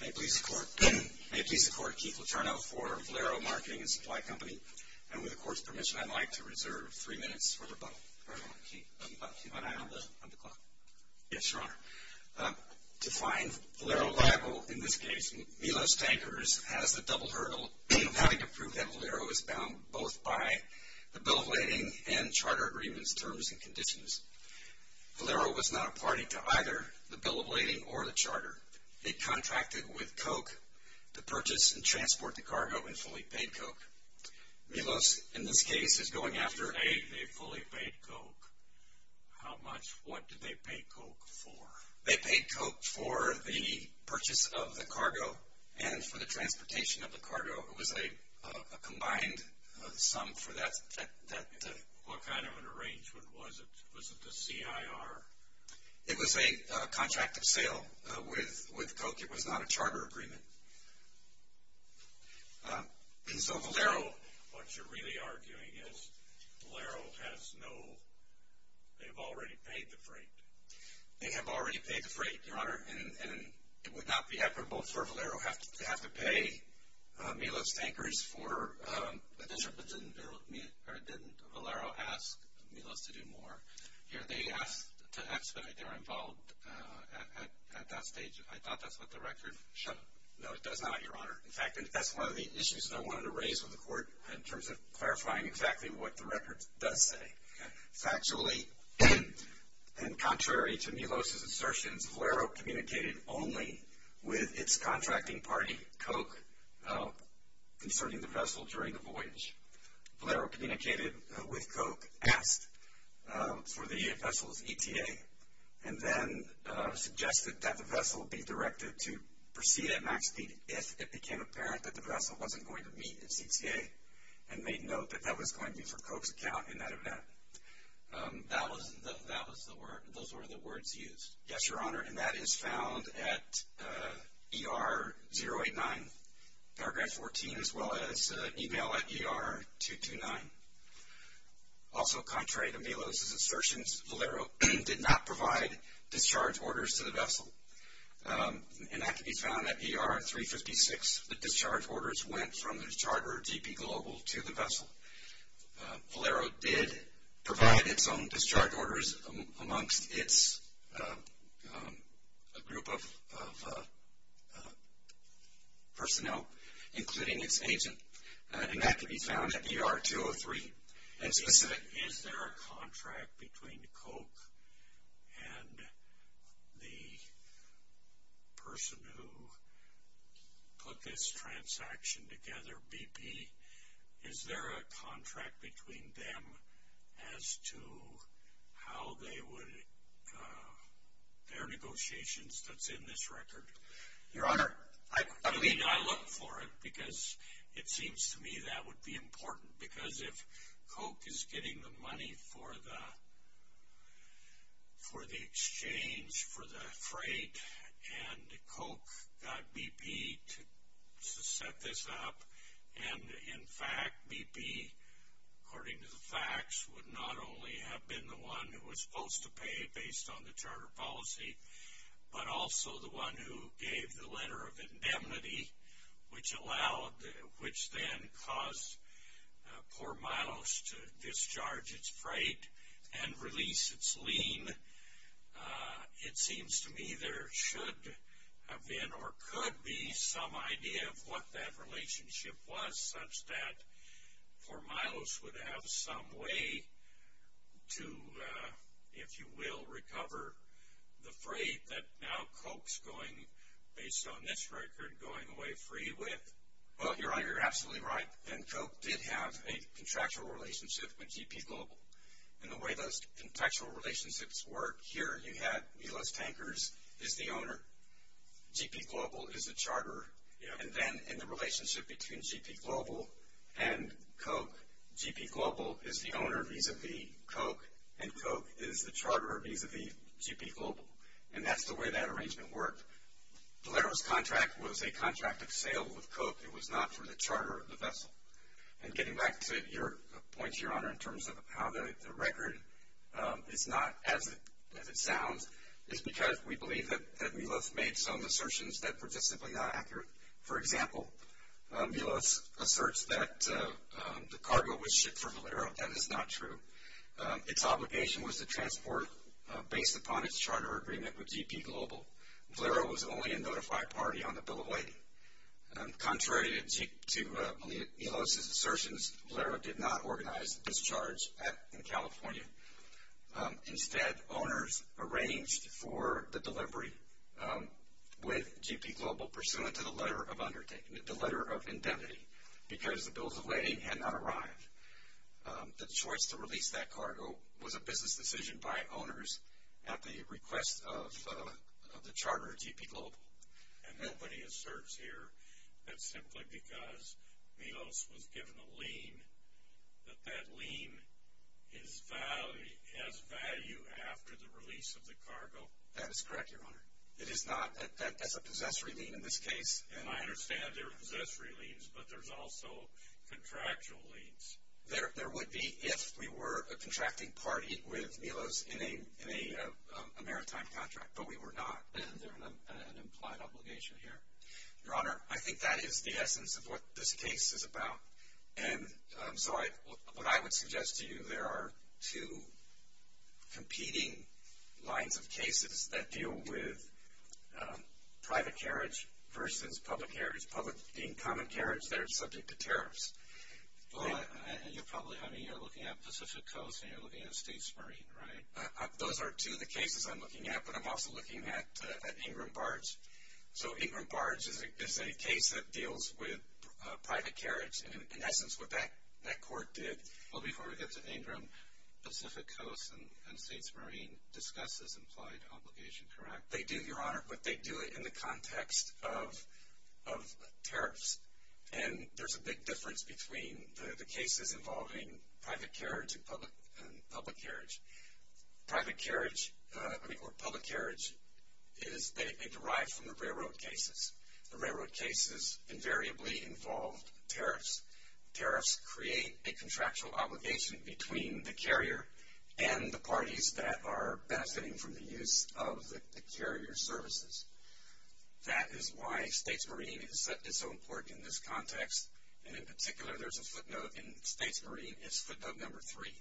May it please the Court, Keith Letourneau for Valero Marketing and Supply Company, and with the Court's permission, I'd like to reserve three minutes for rebuttal. Very well, Keith. Keep an eye on the clock. Yes, Your Honor. To find Valero viable in this case, Milos Tankers has the double hurdle of having to prove that Valero is bound both by the Bill of Lading and Charter Agreements Terms and Conditions. Valero was not a party to either the Bill of Lading or the Charter. They contracted with Coke to purchase and transport the cargo in fully paid Coke. Milos, in this case, is going after a fully paid Coke. How much? What did they pay Coke for? They paid Coke for the purchase of the cargo and for the transportation of the cargo. It was a combined sum for that. What kind of an arrangement was it? Was it the CIR? It was a contract of sale with Coke. It was not a charter agreement. And so Valero... What you're really arguing is Valero has no... They've already paid the freight. They have already paid the freight, Your Honor, and it would not be equitable for Valero to have to pay Milos Tankers for the distribution. Didn't Valero ask Milos to do more? Here they asked to expedite. They were involved at that stage. I thought that's what the record showed. No, it does not, Your Honor. In fact, that's one of the issues that I wanted to raise with the Court in terms of clarifying exactly what the record does say. Factually, and contrary to Milos' assertions, Valero communicated only with its contracting party, Coke, concerning the vessel during the voyage. Valero communicated with Coke, asked for the vessel's ETA, and then suggested that the vessel be directed to proceed at max speed if it became apparent that the vessel wasn't going to meet its ETA and made note that that was going to be for Coke's account in that event. Those were the words used. Yes, Your Honor, and that is found at ER 089, paragraph 14, as well as email at ER 229. Also contrary to Milos' assertions, Valero did not provide discharge orders to the vessel, and that can be found at ER 356. The discharge orders went from the discharger, DP Global, to the vessel. Valero did provide its own discharge orders amongst its group of personnel, including its agent, and that can be found at ER 203. Is there a contract between Coke and the person who put this transaction together, BP? Is there a contract between them as to how they would, their negotiations that's in this record? Your Honor, I mean, I look for it because it seems to me that would be important because if Coke is getting the money for the exchange for the freight, and Coke got BP to set this up, and, in fact, BP, according to the facts, would not only have been the one who was supposed to pay based on the charter policy, but also the one who gave the letter of indemnity, which allowed, which then caused poor Milos to discharge its freight and release its lien. It seems to me there should have been or could be some idea of what that relationship was, such that poor Milos would have some way to, if you will, recover the freight that now Coke's going, based on this record, going away free with. Well, Your Honor, you're absolutely right, and Coke did have a contractual relationship with GP Global, and the way those contractual relationships work, here you had Milos Tankers is the owner, GP Global is the charterer, and then in the relationship between GP Global and Coke, GP Global is the owner vis-a-vis Coke, and Coke is the charterer vis-a-vis GP Global, and that's the way that arrangement worked. Valero's contract was a contract of sale with Coke. It was not for the charter of the vessel. And getting back to your point, Your Honor, in terms of how the record is not as it sounds, is because we believe that Milos made some assertions that were just simply not accurate. For example, Milos asserts that the cargo was shipped for Valero. That is not true. Its obligation was to transport based upon its charter agreement with GP Global. Valero was only a notified party on the bill of lading. Contrary to Milos' assertions, Valero did not organize the discharge in California. Instead, owners arranged for the delivery with GP Global pursuant to the letter of undertaking, the letter of indemnity, because the bills of lading had not arrived. The choice to release that cargo was a business decision by owners at the request of the charterer, GP Global. And nobody asserts here that simply because Milos was given a lien, that that lien has value after the release of the cargo. That is correct, Your Honor. It is not as a possessory lien in this case. And I understand there are possessory liens, but there's also contractual liens. There would be if we were a contracting party with Milos in a maritime contract, but we were not. Is there an implied obligation here? Your Honor, I think that is the essence of what this case is about. And so what I would suggest to you, there are two competing lines of cases that deal with private carriage versus public carriage. Public being common carriage, they're subject to tariffs. Well, you're probably, I mean, you're looking at Pacific Coast and you're looking at States Marine, right? Those are two of the cases I'm looking at, but I'm also looking at Ingram Barge. So Ingram Barge is a case that deals with private carriage and, in essence, what that court did. Well, before we get to Ingram, Pacific Coast and States Marine discuss this implied obligation, correct? They do, Your Honor, but they do it in the context of tariffs. And there's a big difference between the cases involving private carriage and public carriage. Private carriage, I mean, or public carriage is they derive from the railroad cases. The railroad cases invariably involve tariffs. Tariffs create a contractual obligation between the carrier and the parties that are benefiting from the use of the carrier services. That is why States Marine is so important in this context. And in particular, there's a footnote in States Marine, it's footnote number three.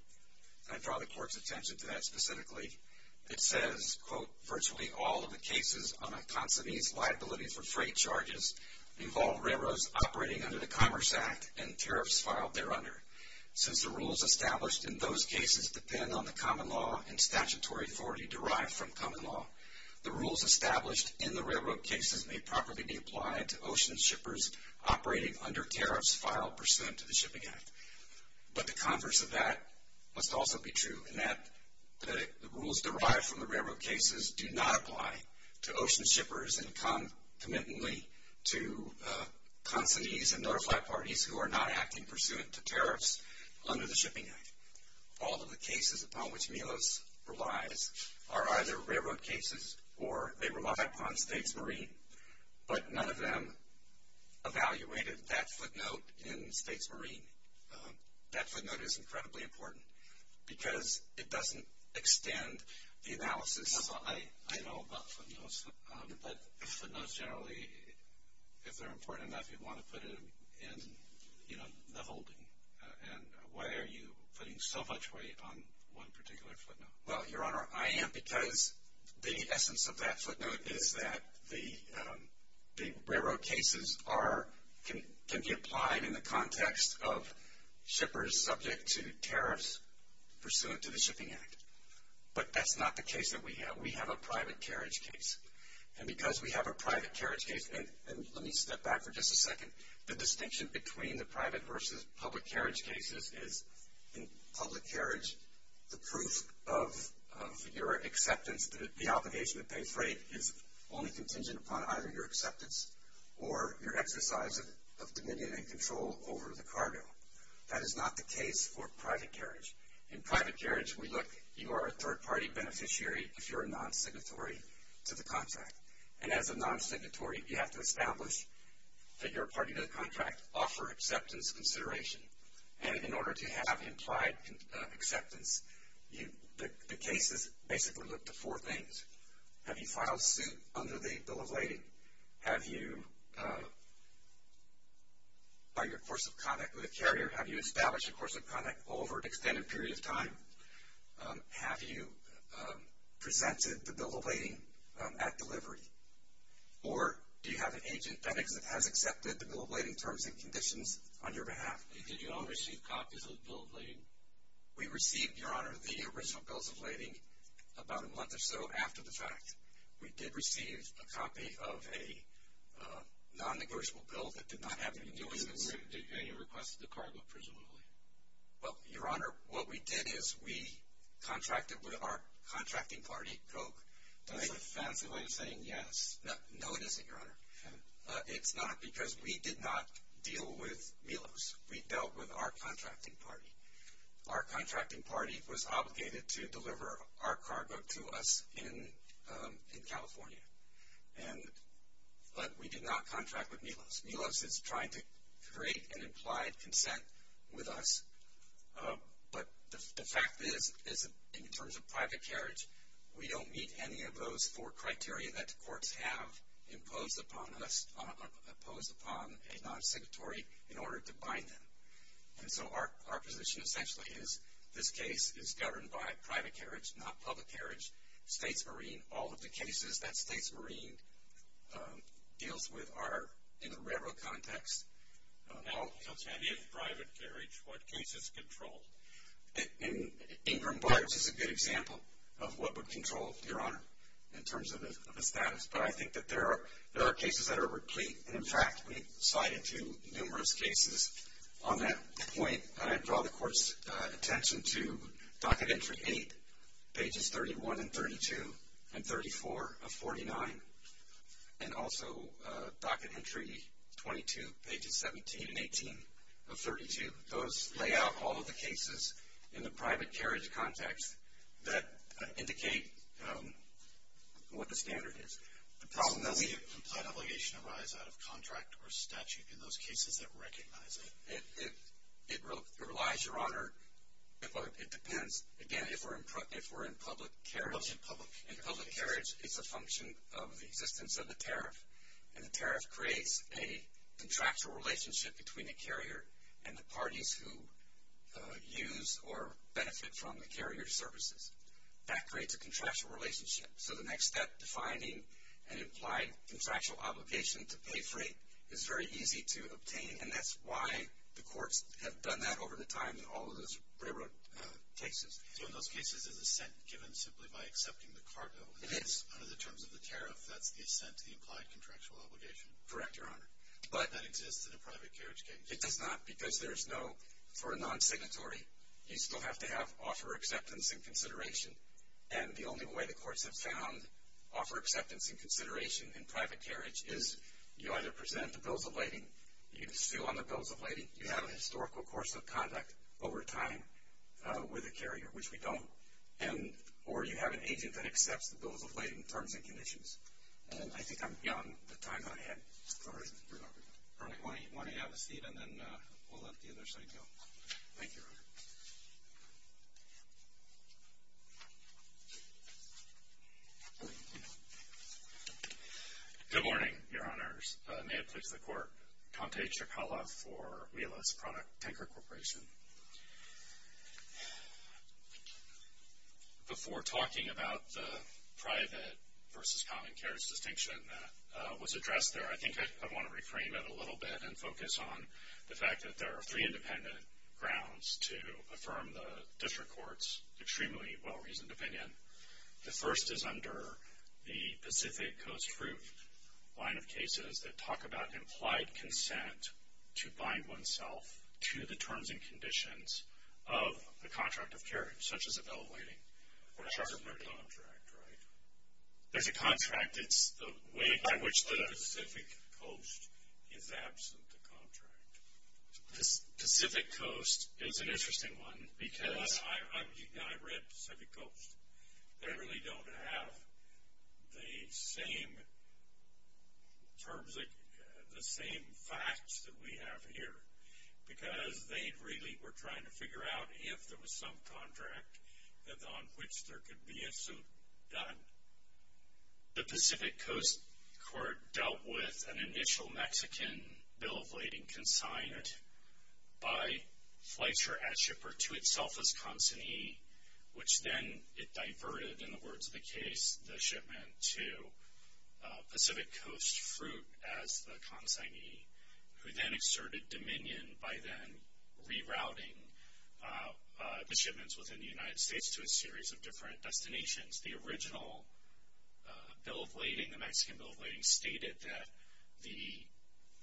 I draw the court's attention to that specifically. It says, quote, virtually all of the cases on a consignee's liability for freight charges involve railroads operating under the Commerce Act and tariffs filed thereunder. Since the rules established in those cases depend on the common law and statutory authority derived from common law, the rules established in the railroad cases may properly be applied to ocean shippers operating under tariffs filed pursuant to the Shipping Act. But the converse of that must also be true, in that the rules derived from the railroad cases do not apply to ocean shippers and come committantly to consignees and notified parties who are not acting pursuant to tariffs under the Shipping Act. All of the cases upon which Milos relies are either railroad cases or they rely upon States Marine, but none of them evaluated that footnote in States Marine. That footnote is incredibly important because it doesn't extend the analysis. I know about footnotes, but footnotes generally, if they're important enough, you want to put them in the holding. And why are you putting so much weight on one particular footnote? Well, Your Honor, I am because the essence of that footnote is that the railroad cases can be applied in the context of shippers subject to tariffs pursuant to the Shipping Act. But that's not the case that we have. We have a private carriage case. And because we have a private carriage case, and let me step back for just a second, the distinction between the private versus public carriage cases is in public carriage, the proof of your acceptance that the obligation to pay freight is only contingent upon either your acceptance or your exercise of dominion and control over the cargo. That is not the case for private carriage. In private carriage, we look, you are a third-party beneficiary if you're a non-signatory to the contract. And as a non-signatory, you have to establish that you're a party to the contract, offer acceptance consideration. And in order to have implied acceptance, the cases basically look to four things. Have you filed suit under the Bill of Lading? Have you, by your course of contact with the carrier, have you established a course of contact over an extended period of time? Have you presented the Bill of Lading at delivery? Or do you have an agent that has accepted the Bill of Lading terms and conditions on your behalf? And did you all receive copies of the Bill of Lading? We received, Your Honor, the original Bills of Lading about a month or so after the fact. We did receive a copy of a non-negotiable bill that did not have any nuisance. And you requested the cargo presumably? Well, Your Honor, what we did is we contracted with our contracting party, Koch. That's a fancy way of saying yes. No, it isn't, Your Honor. It's not because we did not deal with Milos. We dealt with our contracting party. Our contracting party was obligated to deliver our cargo to us in California. But we did not contract with Milos. Milos is trying to create an implied consent with us. But the fact is, in terms of private carriage, we don't meet any of those four criteria that the courts have imposed upon us, imposed upon a non-signatory in order to bind them. And so our position essentially is this case is governed by private carriage, not public carriage. States Marine, all of the cases that States Marine deals with are in the railroad context. Now tell me, if private carriage, what case is controlled? Ingram Barge is a good example of what would control, Your Honor, in terms of the status. But I think that there are cases that are replete. And, in fact, we've cited numerous cases on that point. I draw the Court's attention to Docket Entry 8, Pages 31 and 32, and 34 of 49, and also Docket Entry 22, Pages 17 and 18 of 32. Those lay out all of the cases in the private carriage context that indicate what the standard is. Does the implied obligation arise out of contract or statute in those cases that recognize it? It relies, Your Honor. It depends. Again, if we're in public carriage, it's a function of the existence of the tariff. And the tariff creates a contractual relationship between the carrier and the parties who use or benefit from the carrier's services. That creates a contractual relationship. So the next step, defining an implied contractual obligation to pay freight, is very easy to obtain. And that's why the courts have done that over the time in all of those railroad cases. So in those cases, is assent given simply by accepting the cargo? It is. Under the terms of the tariff, that's the assent to the implied contractual obligation? Correct, Your Honor. But that exists in a private carriage case? It does not because there's no, for a non-signatory, you still have to have offer acceptance and consideration. And the only way the courts have found offer acceptance and consideration in private carriage is you either present the bills of lading, you sue on the bills of lading, you have a historical course of conduct over time with the carrier, which we don't, or you have an agent that accepts the bills of lading terms and conditions. And I think I'm beyond the time that I had. All right. Why don't you have a seat and then we'll let the other side go. Thank you, Your Honor. Good morning, Your Honors. May it please the Court. Conte Ciccala for Wheelus Product Tanker Corporation. Before talking about the private versus common carriage distinction that was addressed there, I think I'd want to reframe it a little bit and focus on the fact that there are three independent grounds to affirm the district court's extremely well-reasoned opinion. The first is under the Pacific Coast Fruit line of cases that talk about implied consent to bind oneself to the terms and conditions of a contract of carriage, such as a bill of lading. There's a contract, right? There's a contract. It's the way by which the Pacific Coast is absent the contract. Pacific Coast is an interesting one because. I read Pacific Coast. They really don't have the same terms, the same facts that we have here because they really were trying to figure out if there was some contract on which there could be a suit done. The Pacific Coast Court dealt with an initial Mexican bill of lading consigned by Fletcher Adshipper to itself as consignee, which then it diverted, in the words of the case, the shipment to Pacific Coast Fruit as the consignee, who then exerted dominion by then rerouting the shipments within the United States to a series of different destinations. The original bill of lading, the Mexican bill of lading, stated that the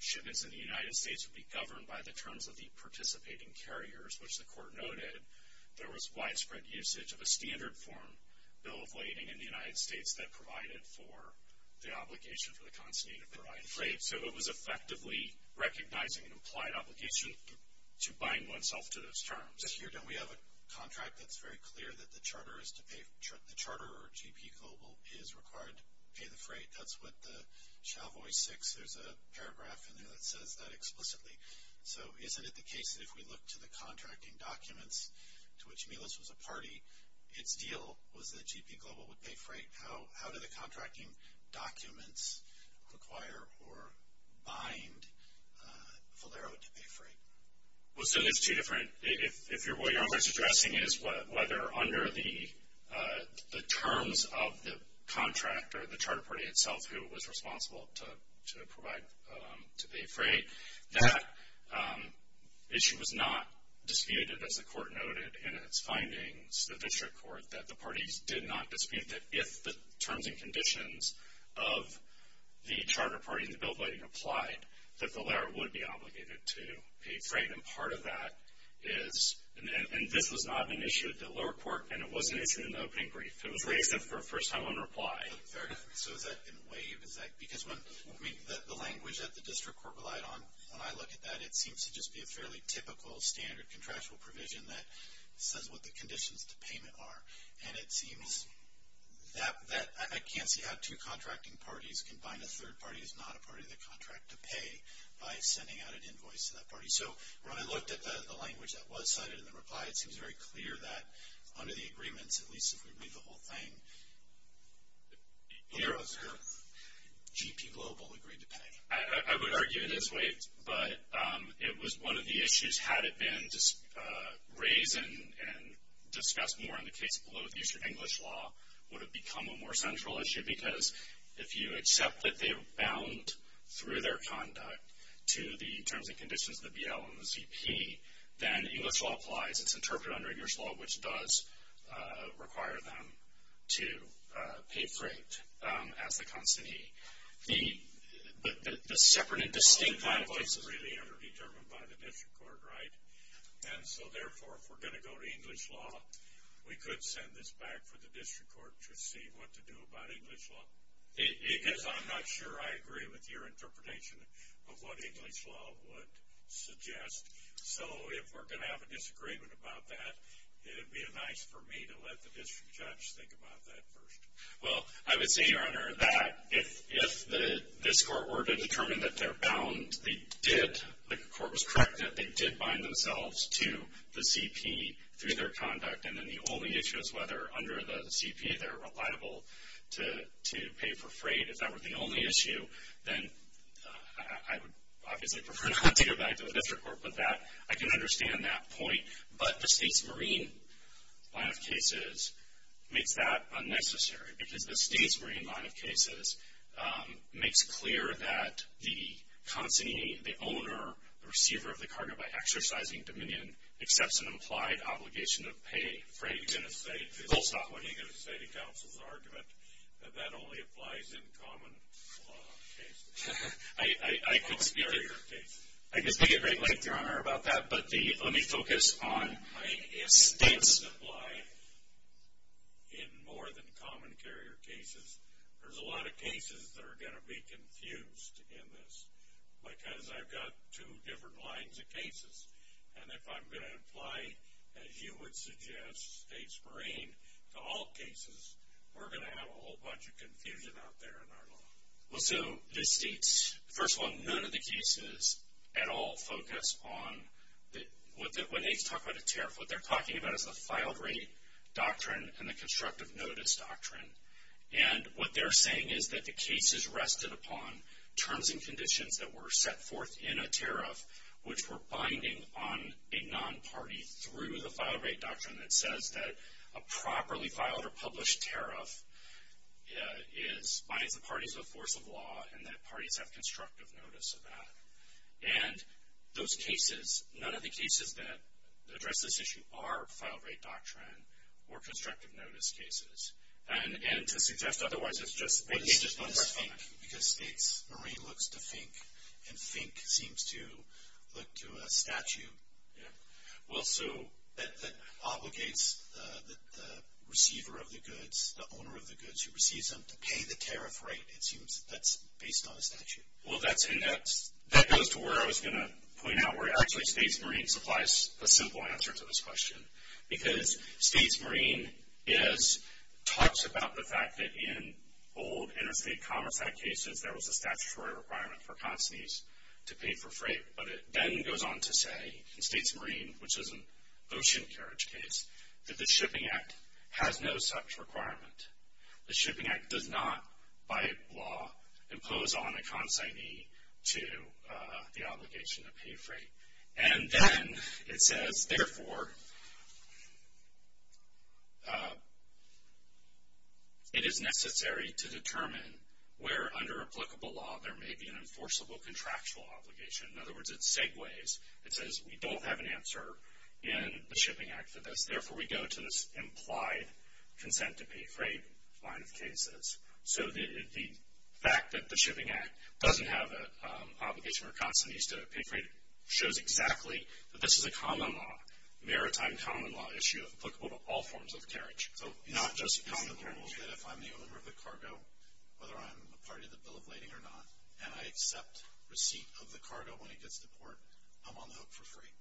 shipments in the United States would be governed by the terms of the participating carriers, which the court noted there was widespread usage of a standard form bill of lading in the United States that provided for the obligation for the consignee to provide freight. So it was effectively recognizing an implied obligation to bind oneself to those terms. Just here, don't we have a contract that's very clear that the charter or GP global is required to pay the freight? That's what the Chavoy 6, there's a paragraph in there that says that explicitly. So isn't it the case that if we look to the contracting documents to which Milos was a party, its deal was that GP global would pay freight? How do the contracting documents require or bind Valero to pay freight? Well, so it's two different, if what you're suggesting is whether under the terms of the contract or the charter party itself who was responsible to provide, to pay freight, that issue was not disputed as the court noted in its findings, the district court, that the parties did not dispute that if the terms and conditions of the charter party in the bill of lading applied, that Valero would be obligated to pay freight. And part of that is, and this was not an issue at the lower court, and it was an issue in the opening brief. It was raised for a first time in reply. So has that been waived? Because the language that the district court relied on, when I look at that, it seems to just be a fairly typical standard contractual provision that says what the conditions to payment are. And it seems that I can't see how two contracting parties can bind a third party who's not a part of the contract to pay by sending out an invoice to that party. So when I looked at the language that was cited in the reply, it seems very clear that under the agreements, at least if we read the whole thing, Valero's G.P. Global agreed to pay. I would argue it is waived, but it was one of the issues, had it been raised and discussed more in the case below the English law, would have become a more central issue. Because if you accept that they're bound through their conduct to the terms and conditions of the BL and the G.P., then English law applies, it's interpreted under English law, which does require them to pay freight as the constantee. The separate and distinct kind of places... That's really underdetermined by the district court, right? And so therefore, if we're going to go to English law, we could send this back for the district court to see what to do about English law. Because I'm not sure I agree with your interpretation of what English law would suggest. So if we're going to have a disagreement about that, it would be nice for me to let the district judge think about that first. Well, I would say, Your Honor, that if this court were to determine that they're bound, the court was correct that they did bind themselves to the C.P. through their conduct, and then the only issue is whether under the C.P. they're reliable to pay for freight. If that were the only issue, then I would obviously prefer not to go back to the district court, but I can understand that point. But the state's marine line of cases makes that unnecessary, because the state's marine line of cases makes clear that the constantee, the owner, the receiver of the cargo by exercising dominion, accepts an implied obligation to pay freight. Are you going to say to counsel's argument that that only applies in common carrier cases? I could speak at great length, Your Honor, about that, but let me focus on if states apply in more than common carrier cases, there's a lot of cases that are going to be confused in this, because I've got two different lines of cases. And if I'm going to apply, as you would suggest, states' marine to all cases, we're going to have a whole bunch of confusion out there in our law. Well, so the states, first of all, none of the cases at all focus on what they talk about a tariff. What they're talking about is the filed rate doctrine and the constructive notice doctrine. And what they're saying is that the cases rested upon terms and conditions that were set forth in a tariff, which were binding on a non-party through the filed rate doctrine that says that a properly filed or published tariff binds the parties of a force of law and that parties have constructive notice of that. And those cases, none of the cases that address this issue are filed rate doctrine or constructive notice cases. And to suggest otherwise, it's just a question of time. What is FINK? Because states' marine looks to FINK, and FINK seems to look to a statute. Well, so that obligates the receiver of the goods, the owner of the goods who receives them, to pay the tariff rate. It seems that's based on a statute. Well, that goes to where I was going to point out, where actually states' marine supplies a simple answer to this question. Because states' marine talks about the fact that in old Interstate Commerce Act cases, there was a statutory requirement for constantees to pay for freight. But it then goes on to say, in states' marine, which is an ocean carriage case, that the Shipping Act has no such requirement. The Shipping Act does not, by law, impose on a constantee to the obligation to pay freight. And then it says, therefore, it is necessary to determine where, under applicable law, there may be an enforceable contractual obligation. In other words, it segues. It says, we don't have an answer in the Shipping Act for this. Therefore, we go to this implied consent to pay freight line of cases. So the fact that the Shipping Act doesn't have an obligation for constantees to pay freight shows exactly that this is a common law, maritime common law issue, applicable to all forms of carriage. So not just common carriage. If I'm the owner of the cargo, whether I'm a part of the bill of lading or not, and I accept receipt of the cargo when it gets to port, I'm on the hook for free.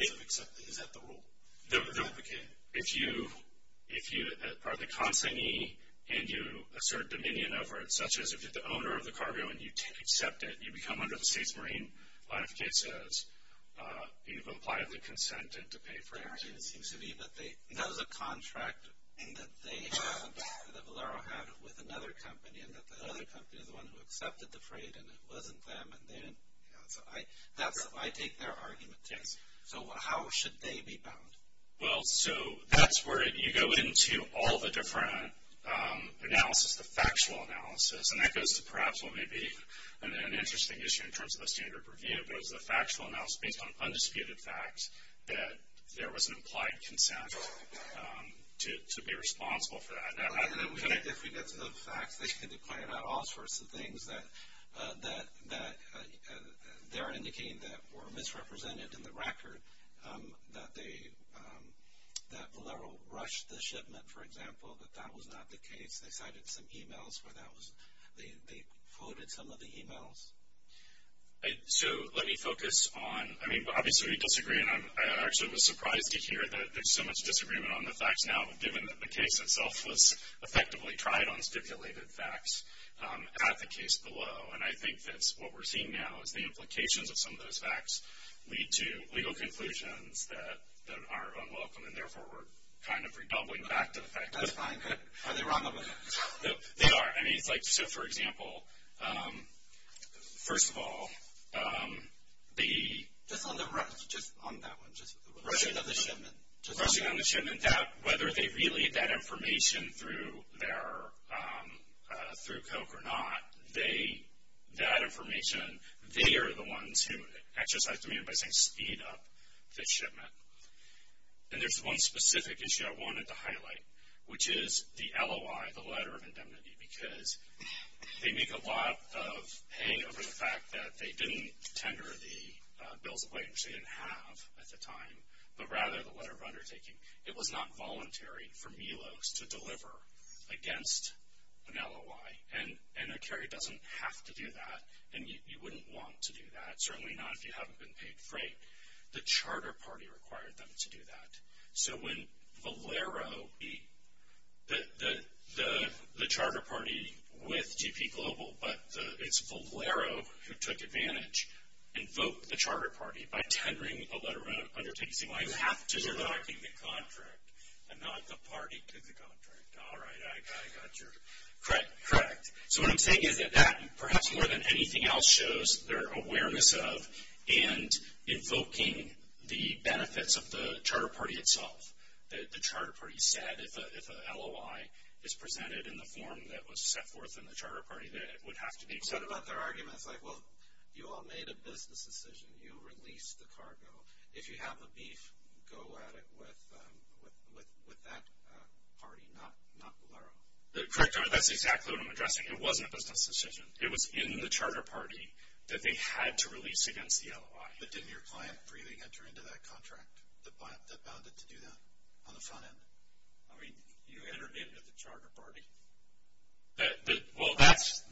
Is that the rule? If you are the constantee and you assert dominion over it, such as if you're the owner of the cargo and you accept it, you become under the states' marine line of cases, you've applied the consent to pay freight. That was a contract that Valero had with another company, and that the other company is the one who accepted the freight, and it wasn't them. So I take their argument, too. So how should they be bound? Well, so that's where you go into all the different analysis, the factual analysis. And that goes to perhaps what may be an interesting issue in terms of the standard review, and it was a factual analysis based on undisputed facts that there was an implied consent to be responsible for that. If we get to the facts, they can declare all sorts of things that they're indicating that were misrepresented in the record, that Valero rushed the shipment, for example, that that was not the case. They cited some e-mails where they quoted some of the e-mails. So let me focus on, I mean, obviously we disagree, and I actually was surprised to hear that there's so much disagreement on the facts now, given that the case itself was effectively tried on stipulated facts at the case below. And I think that what we're seeing now is the implications of some of those facts lead to legal conclusions that are unwelcome, and therefore we're kind of redoubling back to the facts. That's fine. Are they wrong? They are. I mean, it's like, so for example, first of all, the... Just on that one. Rushing of the shipment. Rushing of the shipment, whether they relayed that information through Coke or not, that information, they are the ones who exercised the mandate by saying speed up the shipment. And there's one specific issue I wanted to highlight, which is the LOI, the letter of indemnity, because they make a lot of hay over the fact that they didn't tender the bills of wage they didn't have at the time, but rather the letter of undertaking. It was not voluntary for Milos to deliver against an LOI, and a carrier doesn't have to do that, and you wouldn't want to do that, certainly not if you haven't been paid freight. The charter party required them to do that. So when Valero, the charter party with GP Global, but it's Valero who took advantage, invoked the charter party by tendering a letter of undertaking, saying, well, you have to sign the contract, and not the party did the contract. All right, I got your... Correct, correct. So what I'm saying is that that, perhaps more than anything else, shows their awareness of and invoking the benefits of the charter party itself. The charter party said if a LOI is presented in the form that was set forth in the charter party, that it would have to be accepted. What about their arguments? Like, well, you all made a business decision. You released the cargo. If you have the beef, go at it with that party, not Valero. Correct. That's exactly what I'm addressing. It wasn't a business decision. It was in the charter party that they had to release against the LOI. But didn't your client freely enter into that contract that bound it to do that on the front end? I mean, you entered into the charter party. Well, that's...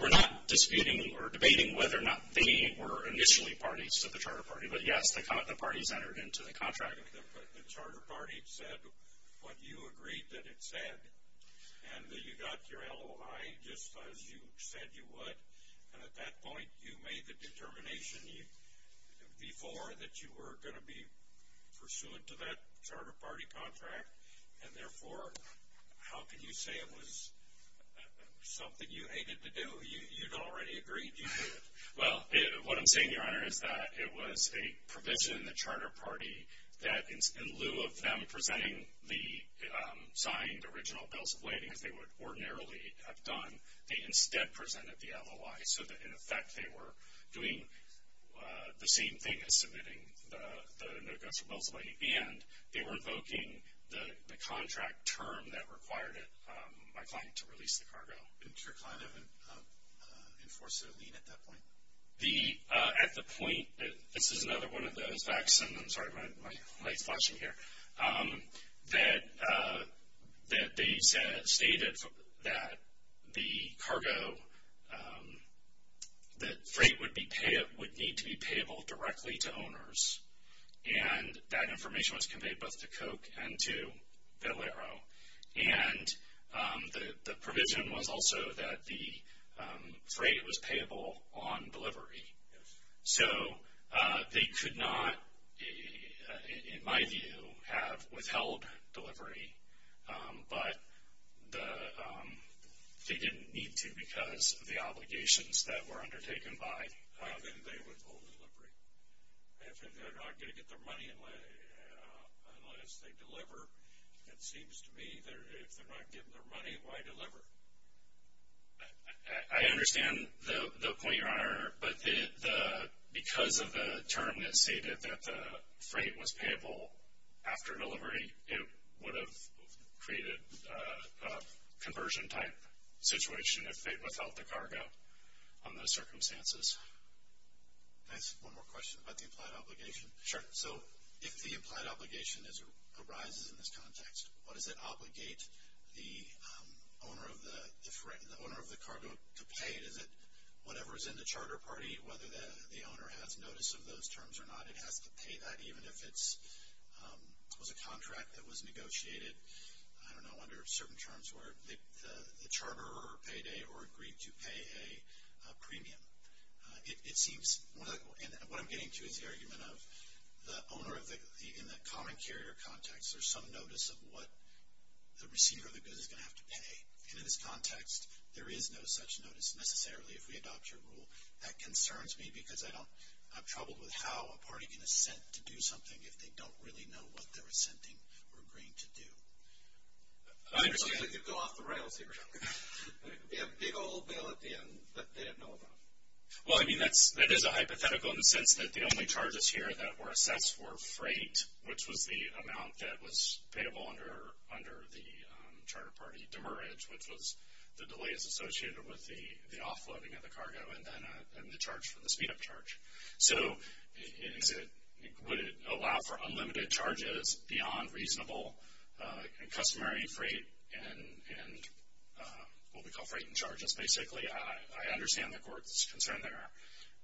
We're not disputing or debating whether or not they were initially parties to the charter party. But, yes, the parties entered into the contract. But the charter party said what you agreed that it said. And you got your LOI just as you said you would. And at that point, you made the determination before that you were going to be pursuant to that charter party contract. And, therefore, how can you say it was something you hated to do? You'd already agreed you would. Well, what I'm saying, Your Honor, is that it was a provision in the charter party that, in lieu of them presenting the signed original bills of lading, as they would ordinarily have done, they instead presented the LOI so that, in effect, they were doing the same thing as submitting the notes of bills of lading. And they were invoking the contract term that required it, my client, to release the cargo. Didn't your client enforce a lien at that point? At the point, this is another one of those facts, and I'm sorry, my light's flashing here, that they stated that the cargo, that freight would need to be payable directly to owners. And that information was conveyed both to Koch and to Valero. And the provision was also that the freight was payable on delivery. Yes. So they could not, in my view, have withheld delivery, but they didn't need to because of the obligations that were undertaken by them. Then they withhold delivery. If they're not going to get their money unless they deliver, it seems to me that if they're not getting their money, why deliver? I understand the point, Your Honor, but because of the term that stated that the freight was payable after delivery, it would have created a conversion-type situation if they'd withheld the cargo on those circumstances. Can I ask one more question about the implied obligation? Sure. So if the implied obligation arises in this context, what does it obligate the owner of the cargo to pay? Is it whatever is in the charter party, whether the owner has notice of those terms or not, it has to pay that even if it was a contract that was negotiated, I don't know, under certain terms where the charter or payday or agreed to pay a premium. It seems, and what I'm getting to is the argument of the owner in the common carrier context, there's some notice of what the receiver of the goods is going to have to pay. And in this context, there is no such notice necessarily if we adopt your rule. That concerns me because I'm troubled with how a party can assent to do something if they don't really know what they're assenting or agreeing to do. I understand they could go off the rails here. It would be a big old bill at the end that they didn't know about. Well, I mean, that is a hypothetical in the sense that the only charges here that were assessed were freight, which was the amount that was payable under the charter party, demerit, which was the delays associated with the offloading of the cargo, and then the charge for the speed-up charge. So would it allow for unlimited charges beyond reasonable and customary freight and what we call freight and charges, basically? I understand the court's concern there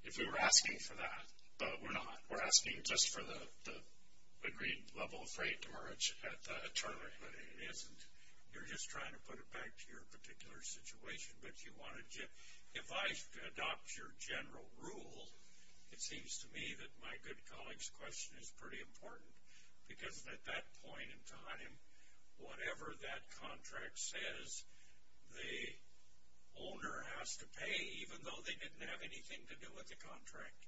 if we were asking for that, but we're not. We're asking just for the agreed level of freight demerit at the charter. But it isn't. You're just trying to put it back to your particular situation. If I adopt your general rule, it seems to me that my good colleague's question is pretty important because at that point in time, whatever that contract says, the owner has to pay even though they didn't have anything to do with the contract.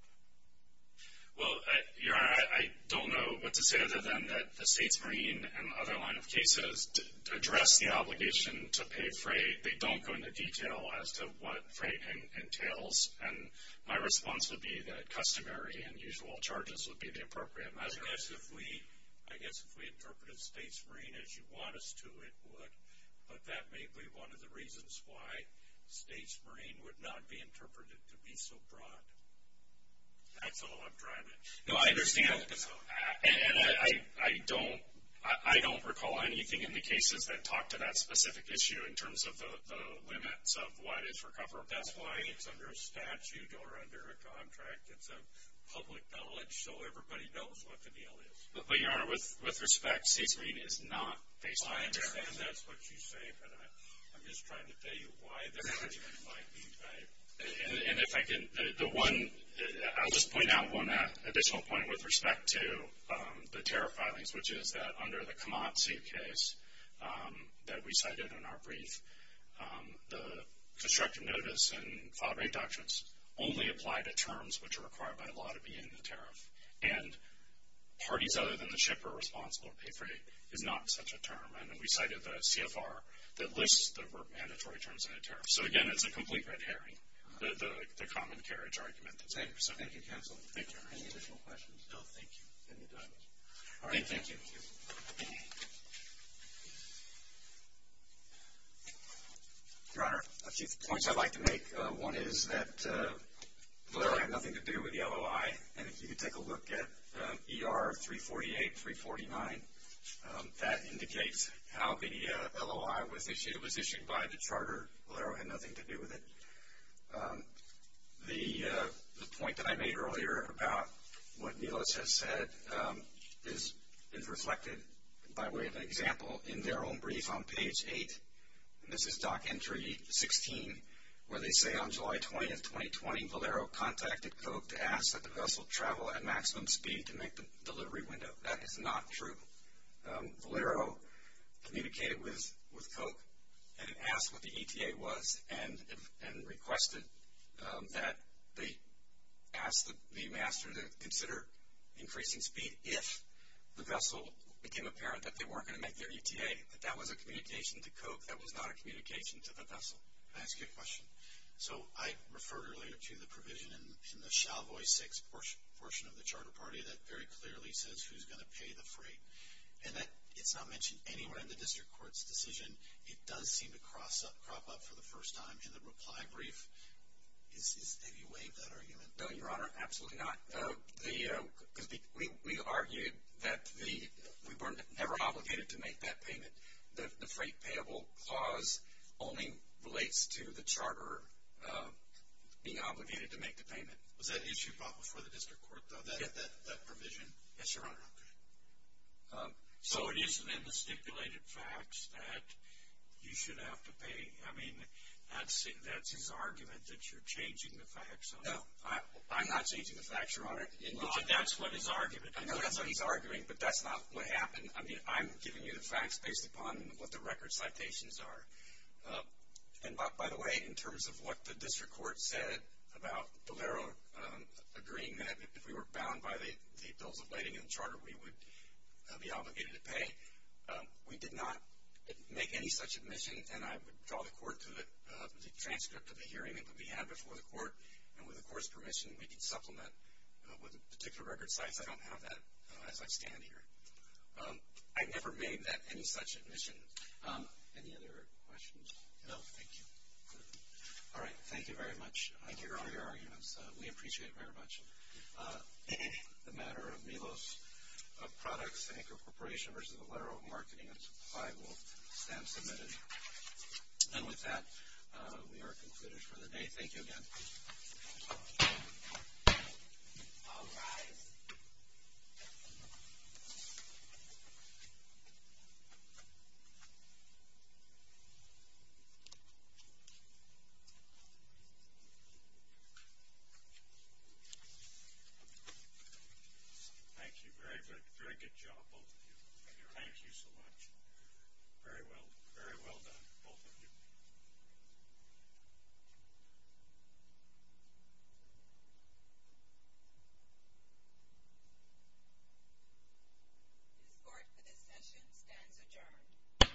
Well, Your Honor, I don't know what to say other than that the states marine and the other line of cases address the obligation to pay freight. They don't go into detail as to what freight entails, and my response would be that customary and usual charges would be the appropriate measure. I guess if we interpreted states marine as you want us to, it would, but that may be one of the reasons why states marine would not be interpreted to be so broad. That's all I'm driving at. No, I understand. And I don't recall anything in the cases that talk to that specific issue in terms of the limits of what is recoverable. That's why it's under a statute or under a contract. It's a public knowledge, so everybody knows what the deal is. But, Your Honor, with respect, states marine is not based on that. I understand that's what you say, but I'm just trying to tell you why this might be right. And if I can, the one, I'll just point out one additional point with respect to the tariff filings, which is that under the Kamatsu case that we cited in our brief, the constructive notice and file rate doctrines only apply to terms which are required by law to be in the tariff, and parties other than the ship are responsible or pay freight is not such a term. And we cited the CFR that lists the mandatory terms in a tariff. So, again, it's a complete red herring, the common carriage argument. Thank you, counsel. Thank you, Your Honor. Any additional questions? No, thank you. Then we're done. All right, thank you. Thank you. Your Honor, a few points I'd like to make. One is that Valero had nothing to do with the LOI, and if you could take a look at ER 348, 349, that indicates how the LOI was issued. It was issued by the charter. Valero had nothing to do with it. The point that I made earlier about what Nelis has said is reflected, by way of an example, in their own brief on page 8. This is Dock Entry 16, where they say on July 20th, 2020, Valero contacted Coke to ask that the vessel travel at maximum speed to make the delivery window. That is not true. Valero communicated with Coke and asked what the ETA was and requested that they ask the master to consider increasing speed if the vessel became apparent that they weren't going to make their ETA. But that was a communication to Coke. That was not a communication to the vessel. May I ask you a question? So I referred earlier to the provision in the Shalvoy 6 portion of the Charter Party that very clearly says who's going to pay the freight. And it's not mentioned anywhere in the district court's decision. It does seem to crop up for the first time in the reply brief. Have you waived that argument? No, Your Honor, absolutely not. We argued that we were never obligated to make that payment. The freight payable clause only relates to the charter being obligated to make the payment. Was that issue brought before the district court, though, that provision? Yes, Your Honor. So it isn't in the stipulated facts that you should have to pay. I mean, that's his argument that you're changing the facts. No, I'm not changing the facts, Your Honor. But that's what his argument is. I know that's what he's arguing, but that's not what happened. I mean, I'm giving you the facts based upon what the record citations are. And, by the way, in terms of what the district court said about Valero agreeing that if we were bound by the bills of lading in the charter, we would be obligated to pay, we did not make any such admission. And I would call the court to the transcript of the hearing that we had before the court, and with the court's permission, we can supplement with a particular record citation. I don't have that as I stand here. I never made that any such admission. Any other questions? No, thank you. All right. Thank you very much, Your Honor, for your arguments. We appreciate it very much. The matter of Milos of Products and Incorporation versus Valero of Marketing and Supply will stand submitted. And with that, we are concluded for the day. Thank you again. All rise. Thank you. Very good. Very good job, both of you. Thank you so much. Very well done, both of you. This court for this session stands adjourned.